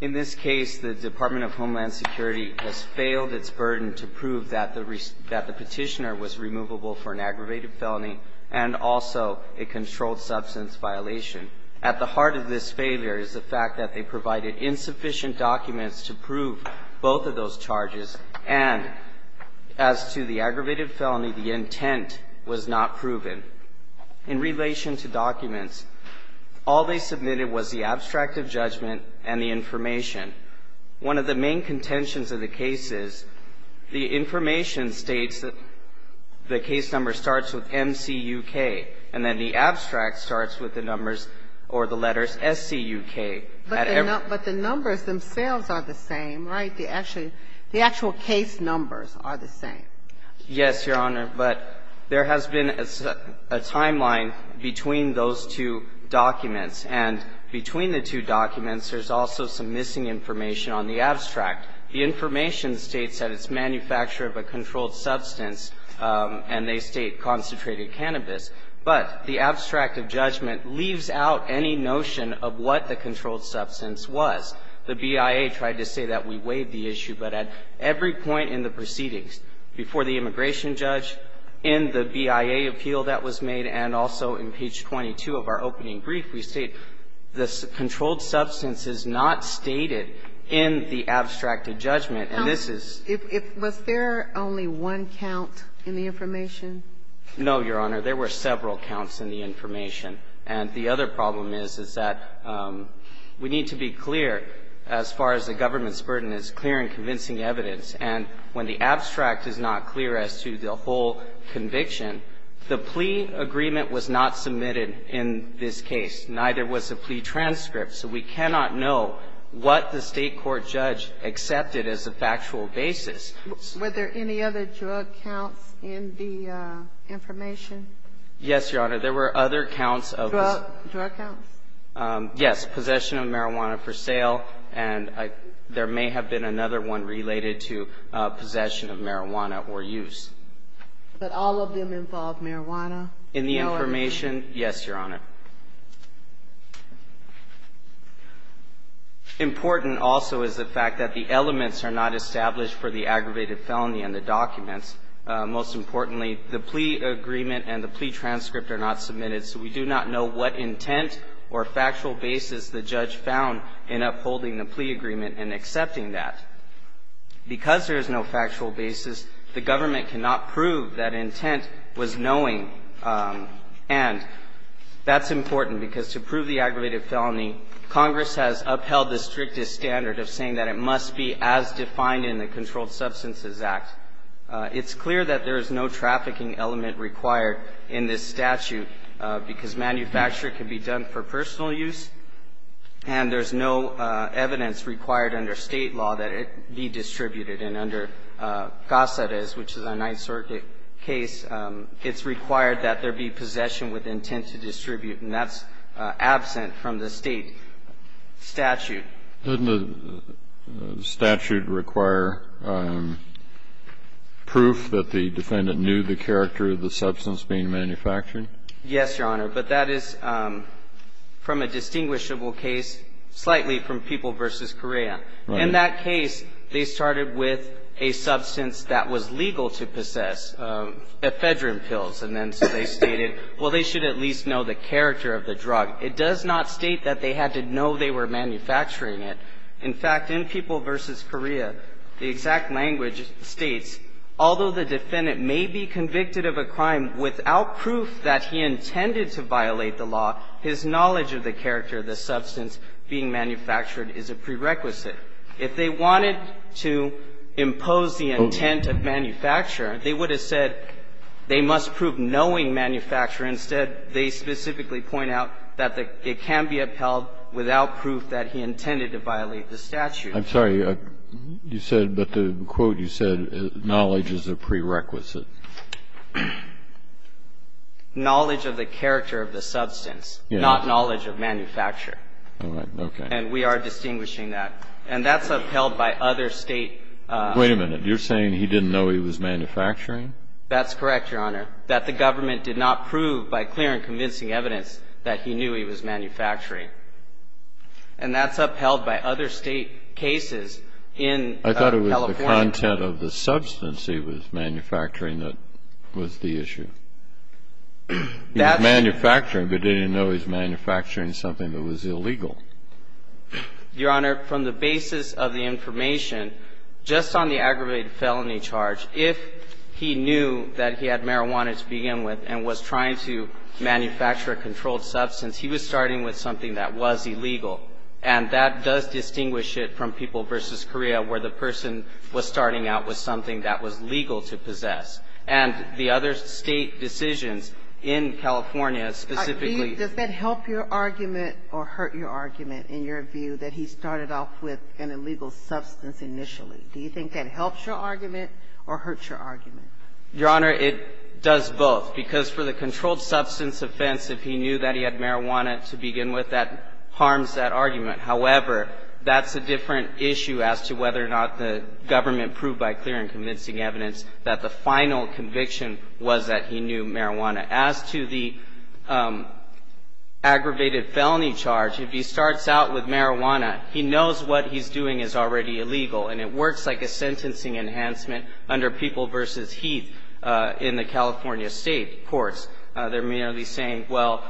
In this case, the Department of Homeland Security has failed its burden to prove that the petitioner was removable for an aggravated felony and also a controlled substance violation. At the heart of this failure is the fact that they provided insufficient documents to prove both of those charges, and as to the aggravated felony, the intent was not proven. In relation to documents, all they submitted was the abstract of judgment and the information. One of the main contentions of the case is the information states that the case number starts with M-C-U-K, and then the abstract starts with the numbers or the letters S-C-U-K. But the numbers themselves are the same, right? The actual case numbers are the same. Yes, Your Honor, but there has been a timeline between those two documents. And between the two documents, there's also some missing information on the abstract. The information states that it's manufactured of a controlled substance, and they state concentrated cannabis, but the abstract of judgment leaves out any notion of what the controlled substance was. The BIA tried to say that we weighed the issue, but at every point in the proceedings before the immigration judge, in the BIA appeal that was made, and also in page 22 of our opening brief, we state the controlled substance is not stated in the abstract of judgment, and this is the case. Was there only one count in the information? No, Your Honor. There were several counts in the information. And the other problem is, is that we need to be clear as far as the government's burden is clear and convincing evidence. And when the abstract is not clear as to the whole conviction, the plea agreement was not submitted in this case. Neither was the plea transcript. So we cannot know what the State court judge accepted as a factual basis. Were there any other drug counts in the information? Yes, Your Honor. There were other counts of this. Drug counts? Yes. Possession of marijuana for sale, and there may have been another one related to possession of marijuana or use. But all of them involve marijuana? In the information, yes, Your Honor. Important also is the fact that the elements are not established for the aggravated felony in the documents. Most importantly, the plea agreement and the plea transcript are not submitted, so we do not know what intent or factual basis the judge found in upholding the plea agreement and accepting that. Because there is no factual basis, the government cannot prove that intent was knowing. And that's important, because to prove the aggravated felony, Congress has upheld the strictest standard of saying that it must be as defined in the Controlled Substances Act. It's clear that there is no trafficking element required in this statute, because manufacture can be done for personal use, and there's no evidence required under State law that it be distributed. And under Casares, which is a Ninth Circuit case, it's required that there be possession with intent to distribute, and that's absent from the State statute. Didn't the statute require proof that the defendant knew the character of the substance being manufactured? Yes, Your Honor. But that is from a distinguishable case, slightly from People v. Correa. In that case, they started with a substance that was legal to possess, ephedrine pills, and then so they stated, well, they should at least know the character of the drug. It does not state that they had to know they were manufacturing it. In fact, in People v. Correa, the exact language states, although the defendant may be convicted of a crime without proof that he intended to violate the law, his knowledge of the character of the substance being manufactured is a prerequisite. If they wanted to impose the intent of manufacture, they would have said they must prove knowing manufacture. Instead, they specifically point out that it can be upheld without proof that he intended to violate the statute. I'm sorry. You said that the quote you said, knowledge is a prerequisite. Knowledge of the character of the substance, not knowledge of manufacture. All right. Okay. And we are distinguishing that. And that's upheld by other State. Wait a minute. You're saying he didn't know he was manufacturing? That's correct, Your Honor. That the government did not prove by clear and convincing evidence that he knew he was manufacturing. And that's upheld by other State cases in California. I thought it was the content of the substance he was manufacturing that was the issue. He was manufacturing, but didn't know he was manufacturing something that was illegal. Your Honor, from the basis of the information, just on the aggravated felony charge, if he knew that he had marijuana to begin with and was trying to manufacture a controlled substance, he was starting with something that was illegal. And that does distinguish it from People v. Korea where the person was starting out with something that was legal to possess. And the other State decisions in California specifically ---- All right. Does that help your argument or hurt your argument in your view that he started off with an illegal substance initially? Do you think that helps your argument or hurts your argument? Your Honor, it does both. Because for the controlled substance offense, if he knew that he had marijuana to begin with, that harms that argument. However, that's a different issue as to whether or not the government proved by clear and convincing evidence that the final conviction was that he knew marijuana. As to the aggravated felony charge, if he starts out with marijuana, he knows what he's doing is already illegal. And it works like a sentencing enhancement under People v. Heath in the California State courts. They're merely saying, well,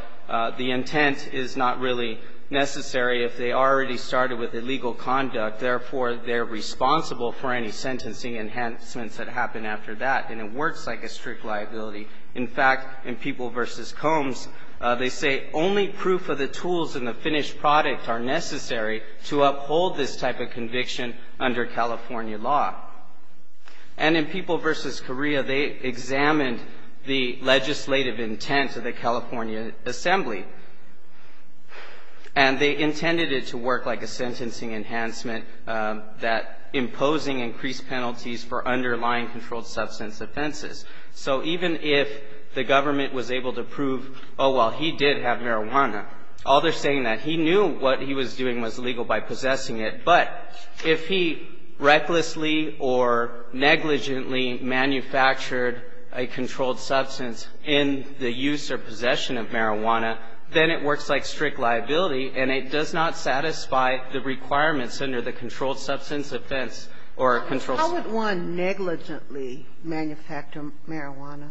the intent is not really necessary. If they already started with illegal conduct, therefore, they're responsible for any sentencing enhancements that happen after that. And it works like a strict liability. In fact, in People v. Combs, they say only proof of the tools in the finished product are necessary to uphold this type of conviction under California law. And in People v. Correa, they examined the legislative intent of the California Assembly, and they intended it to work like a sentencing enhancement that imposing increased penalties for underlying controlled substance offenses. So even if the government was able to prove, oh, well, he did have marijuana, all they're saying that he knew what he was doing was illegal by possessing it, but if he recklessly or negligently manufactured a controlled substance in the use or possession of marijuana, then it works like strict liability, and it does not satisfy the requirements under the controlled substance offense or controlled substance. How would one negligently manufacture marijuana?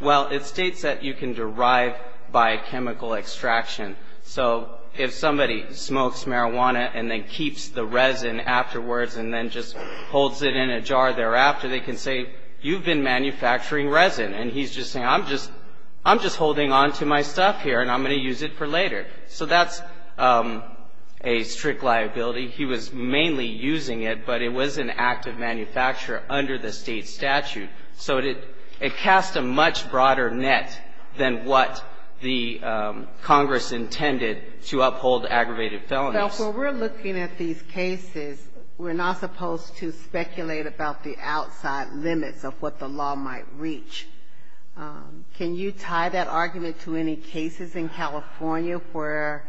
Well, it states that you can derive by chemical extraction. So if somebody smokes marijuana and then keeps the resin afterwards and then just holds it in a jar thereafter, they can say, you've been manufacturing resin. And he's just saying, I'm just holding on to my stuff here, and I'm going to use it for later. So that's a strict liability. He was mainly using it, but it was an active manufacturer under the state statute. So it casts a much broader net than what the Congress intended to uphold aggravated felonies. Now, when we're looking at these cases, we're not supposed to speculate about the outside limits of what the law might reach. Can you tie that argument to any cases in California where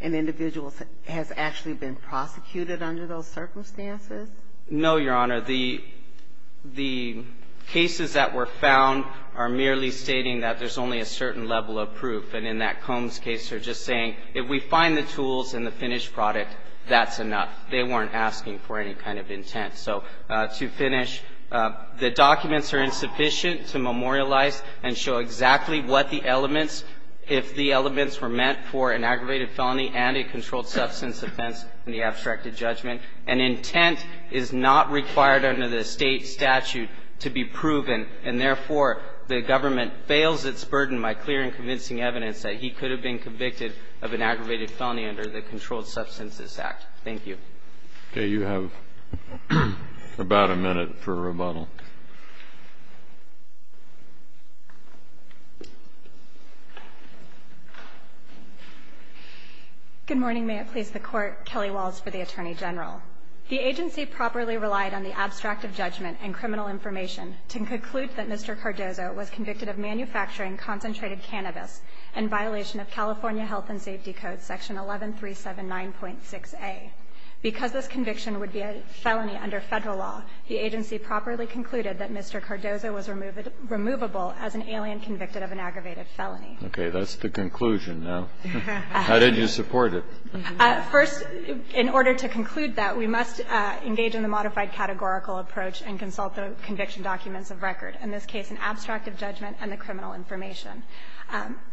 an individual has actually been prosecuted under those circumstances? No, Your Honor. The cases that were found are merely stating that there's only a certain level of proof. And in that Combs case, they're just saying, if we find the tools and the finished product, that's enough. They weren't asking for any kind of intent. So to finish, the documents are insufficient to memorialize and show exactly what the elements, if the elements were meant for an aggravated felony and a controlled substance offense in the abstracted judgment. And intent is not required under the state statute to be proven. And therefore, the government bails its burden by clear and convincing evidence that he could have been convicted of an aggravated felony under the Controlled Substances Act. Thank you. Okay. You have about a minute for rebuttal. Good morning. May it please the Court. Kelly Walz for the Attorney General. The agency properly relied on the abstract of judgment and criminal information to conclude that Mr. Cardozo was convicted of manufacturing concentrated cannabis in violation of California Health and Safety Code section 11379.6a. Because this conviction would be a felony under Federal law, the agency properly concluded that Mr. Cardozo was removable as an alien convicted of an aggravated felony. Okay. That's the conclusion now. How did you support it? First, in order to conclude that, we must engage in the modified categorical approach and consult the conviction documents of record. In this case, an abstract of judgment and the criminal information.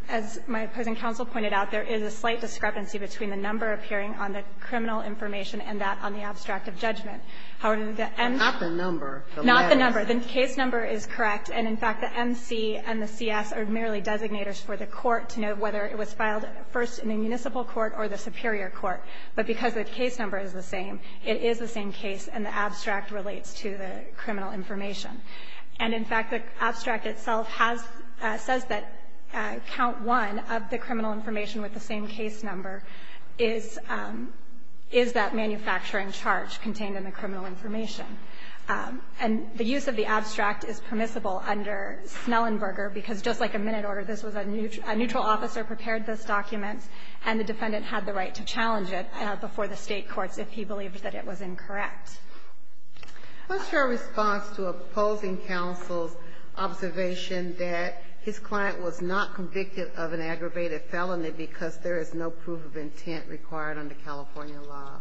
As my opposing counsel pointed out, there is a slight discrepancy between the number appearing on the criminal information and that on the abstract of judgment. However, the MC. Not the number. Not the number. The case number is correct. And in fact, the MC and the CS are merely designators for the Court to know whether it was filed first in a municipal court or the superior court. But because the case number is the same, it is the same case, and the abstract relates to the criminal information. And in fact, the abstract itself has says that count one of the criminal information with the same case number is that manufacturing charge contained in the criminal information. And the use of the abstract is permissible under Snellenberger, because just like a minute order, this was a neutral officer prepared this document, and the defendant had the right to challenge it before the State courts if he believed that it was incorrect. What's your response to opposing counsel's observation that his client was not convicted of an aggravated felony because there is no proof of intent required under California law?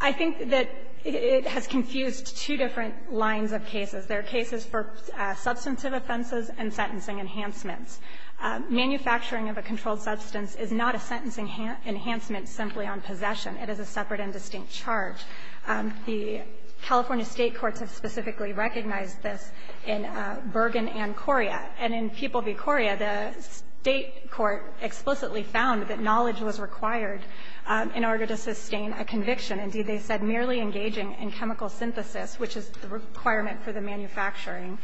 I think that it has confused two different lines of cases. There are cases for substantive offenses and sentencing enhancements. Manufacturing of a controlled substance is not a sentencing enhancement simply on possession. It is a separate and distinct charge. The California State courts have specifically recognized this in Bergen and Coria. And in People v. Coria, the State court explicitly found that knowledge was required in order to sustain a conviction. Indeed, they said merely engaging in chemical synthesis, which is the requirement for the manufacturing,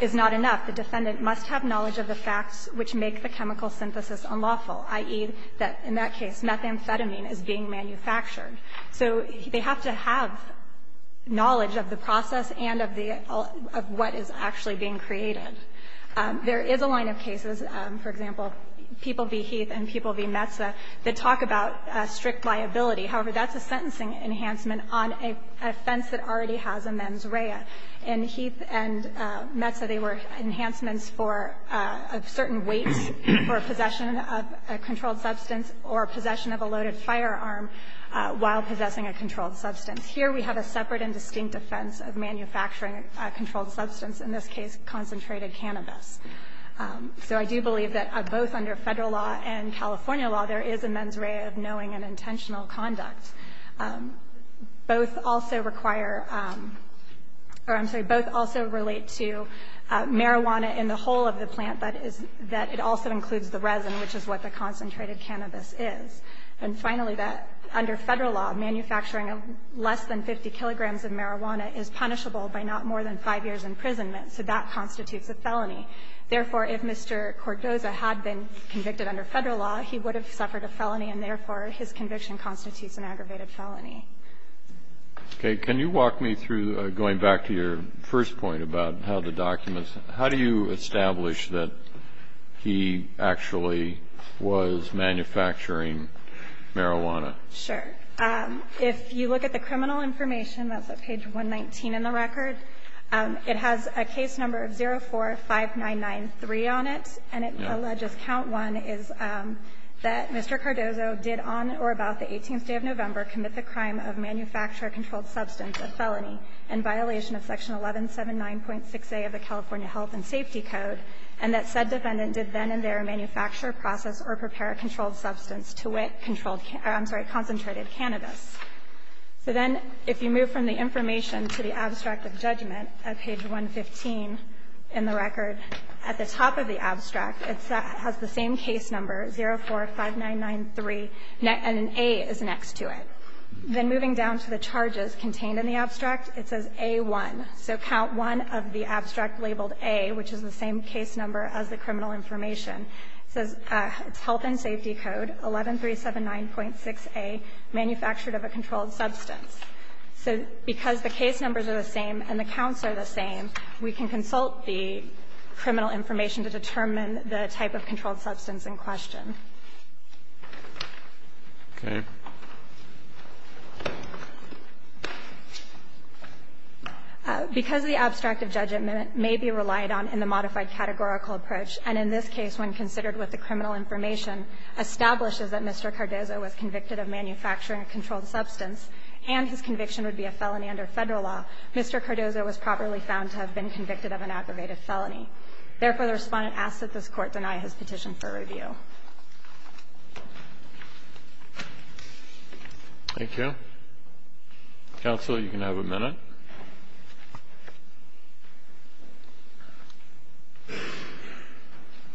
is not enough. The defendant must have knowledge of the facts which make the chemical synthesis unlawful, i.e., that in that case, methamphetamine is being manufactured. So they have to have knowledge of the process and of the all of what is actually being created. There is a line of cases, for example, People v. Heath and People v. Metsa, that talk about strict liability. However, that's a sentencing enhancement on a offense that already has a mens rea. In Heath and Metsa, they were enhancements for a certain weight for possession of a controlled substance or possession of a loaded firearm while possessing a controlled substance. Here, we have a separate and distinct offense of manufacturing a controlled substance, in this case, concentrated cannabis. So I do believe that both under Federal law and California law, there is a mens rea of knowing and intentional conduct. Both also require or I'm sorry, both also relate to marijuana in the whole of the plant, but it also includes the resin, which is what the concentrated cannabis is. And finally, that under Federal law, manufacturing of less than 50 kilograms of marijuana is punishable by not more than 5 years' imprisonment, so that constitutes a felony. Therefore, if Mr. Cordoza had been convicted under Federal law, he would have suffered a felony, and therefore, his conviction constitutes an aggravated felony. Okay. Can you walk me through, going back to your first point about how the documents How do you establish that he actually was manufacturing marijuana? Sure. If you look at the criminal information, that's at page 119 in the record, it has a case number of 045993 on it, and it alleges count one is that Mr. Cordoza did on or about the 18th day of November commit the crime of manufacturer controlled substance, a felony, in violation of section 1179.6a of the California Health and Safety Code, and that said defendant did then and there manufacture, process, or prepare a controlled substance to wit, controlled, I'm sorry, concentrated cannabis. So then, if you move from the information to the abstract of judgment at page 115 in the record, at the top of the abstract, it has the same case number, 045993, and an A is next to it. Then moving down to the charges contained in the abstract, it says A1. So count one of the abstract labeled A, which is the same case number as the criminal information, says it's Health and Safety Code, 11379.6a, manufactured of a controlled substance. So because the case numbers are the same and the counts are the same, we can assume that we can consult the criminal information to determine the type of controlled substance in question. Okay. Because the abstract of judgment may be relied on in the modified categorical approach, and in this case, when considered with the criminal information, establishes that Mr. Cardozo was convicted of manufacturing a controlled substance and his conviction would be a felony under Federal law, Mr. Cardozo was properly found to have been convicted of an aggravated felony. Therefore, the Respondent asks that this Court deny his petition for review. Thank you. Counsel, you can have a minute.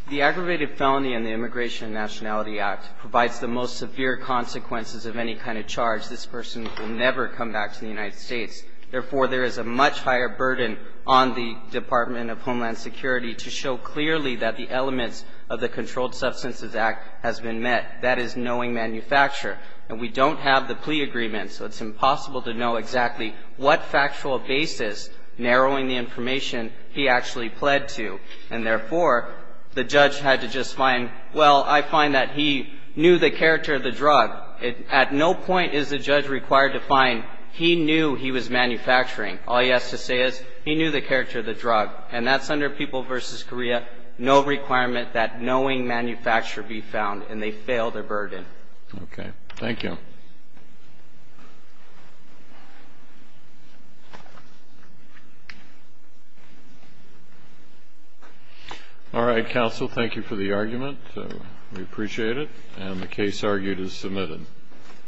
The Aggravated Felony in the Immigration and Nationality Act provides the most severe consequences of any kind of charge. This person will never come back to the United States. Therefore, there is a much higher burden on the Department of Homeland Security to show clearly that the elements of the Controlled Substances Act has been met. That is knowing manufacturer. And we don't have the plea agreement, so it's impossible to know exactly what factual basis, narrowing the information, he actually pled to. And therefore, the judge had to just find, well, I find that he knew the character of the drug. At no point is the judge required to find he knew he was manufacturing. All he has to say is he knew the character of the drug. And that's under People v. Korea, no requirement that knowing manufacturer be found, and they fail their burden. Okay. Thank you. All right, Counsel. Thank you for the argument. We appreciate it. And the case argued is submitted.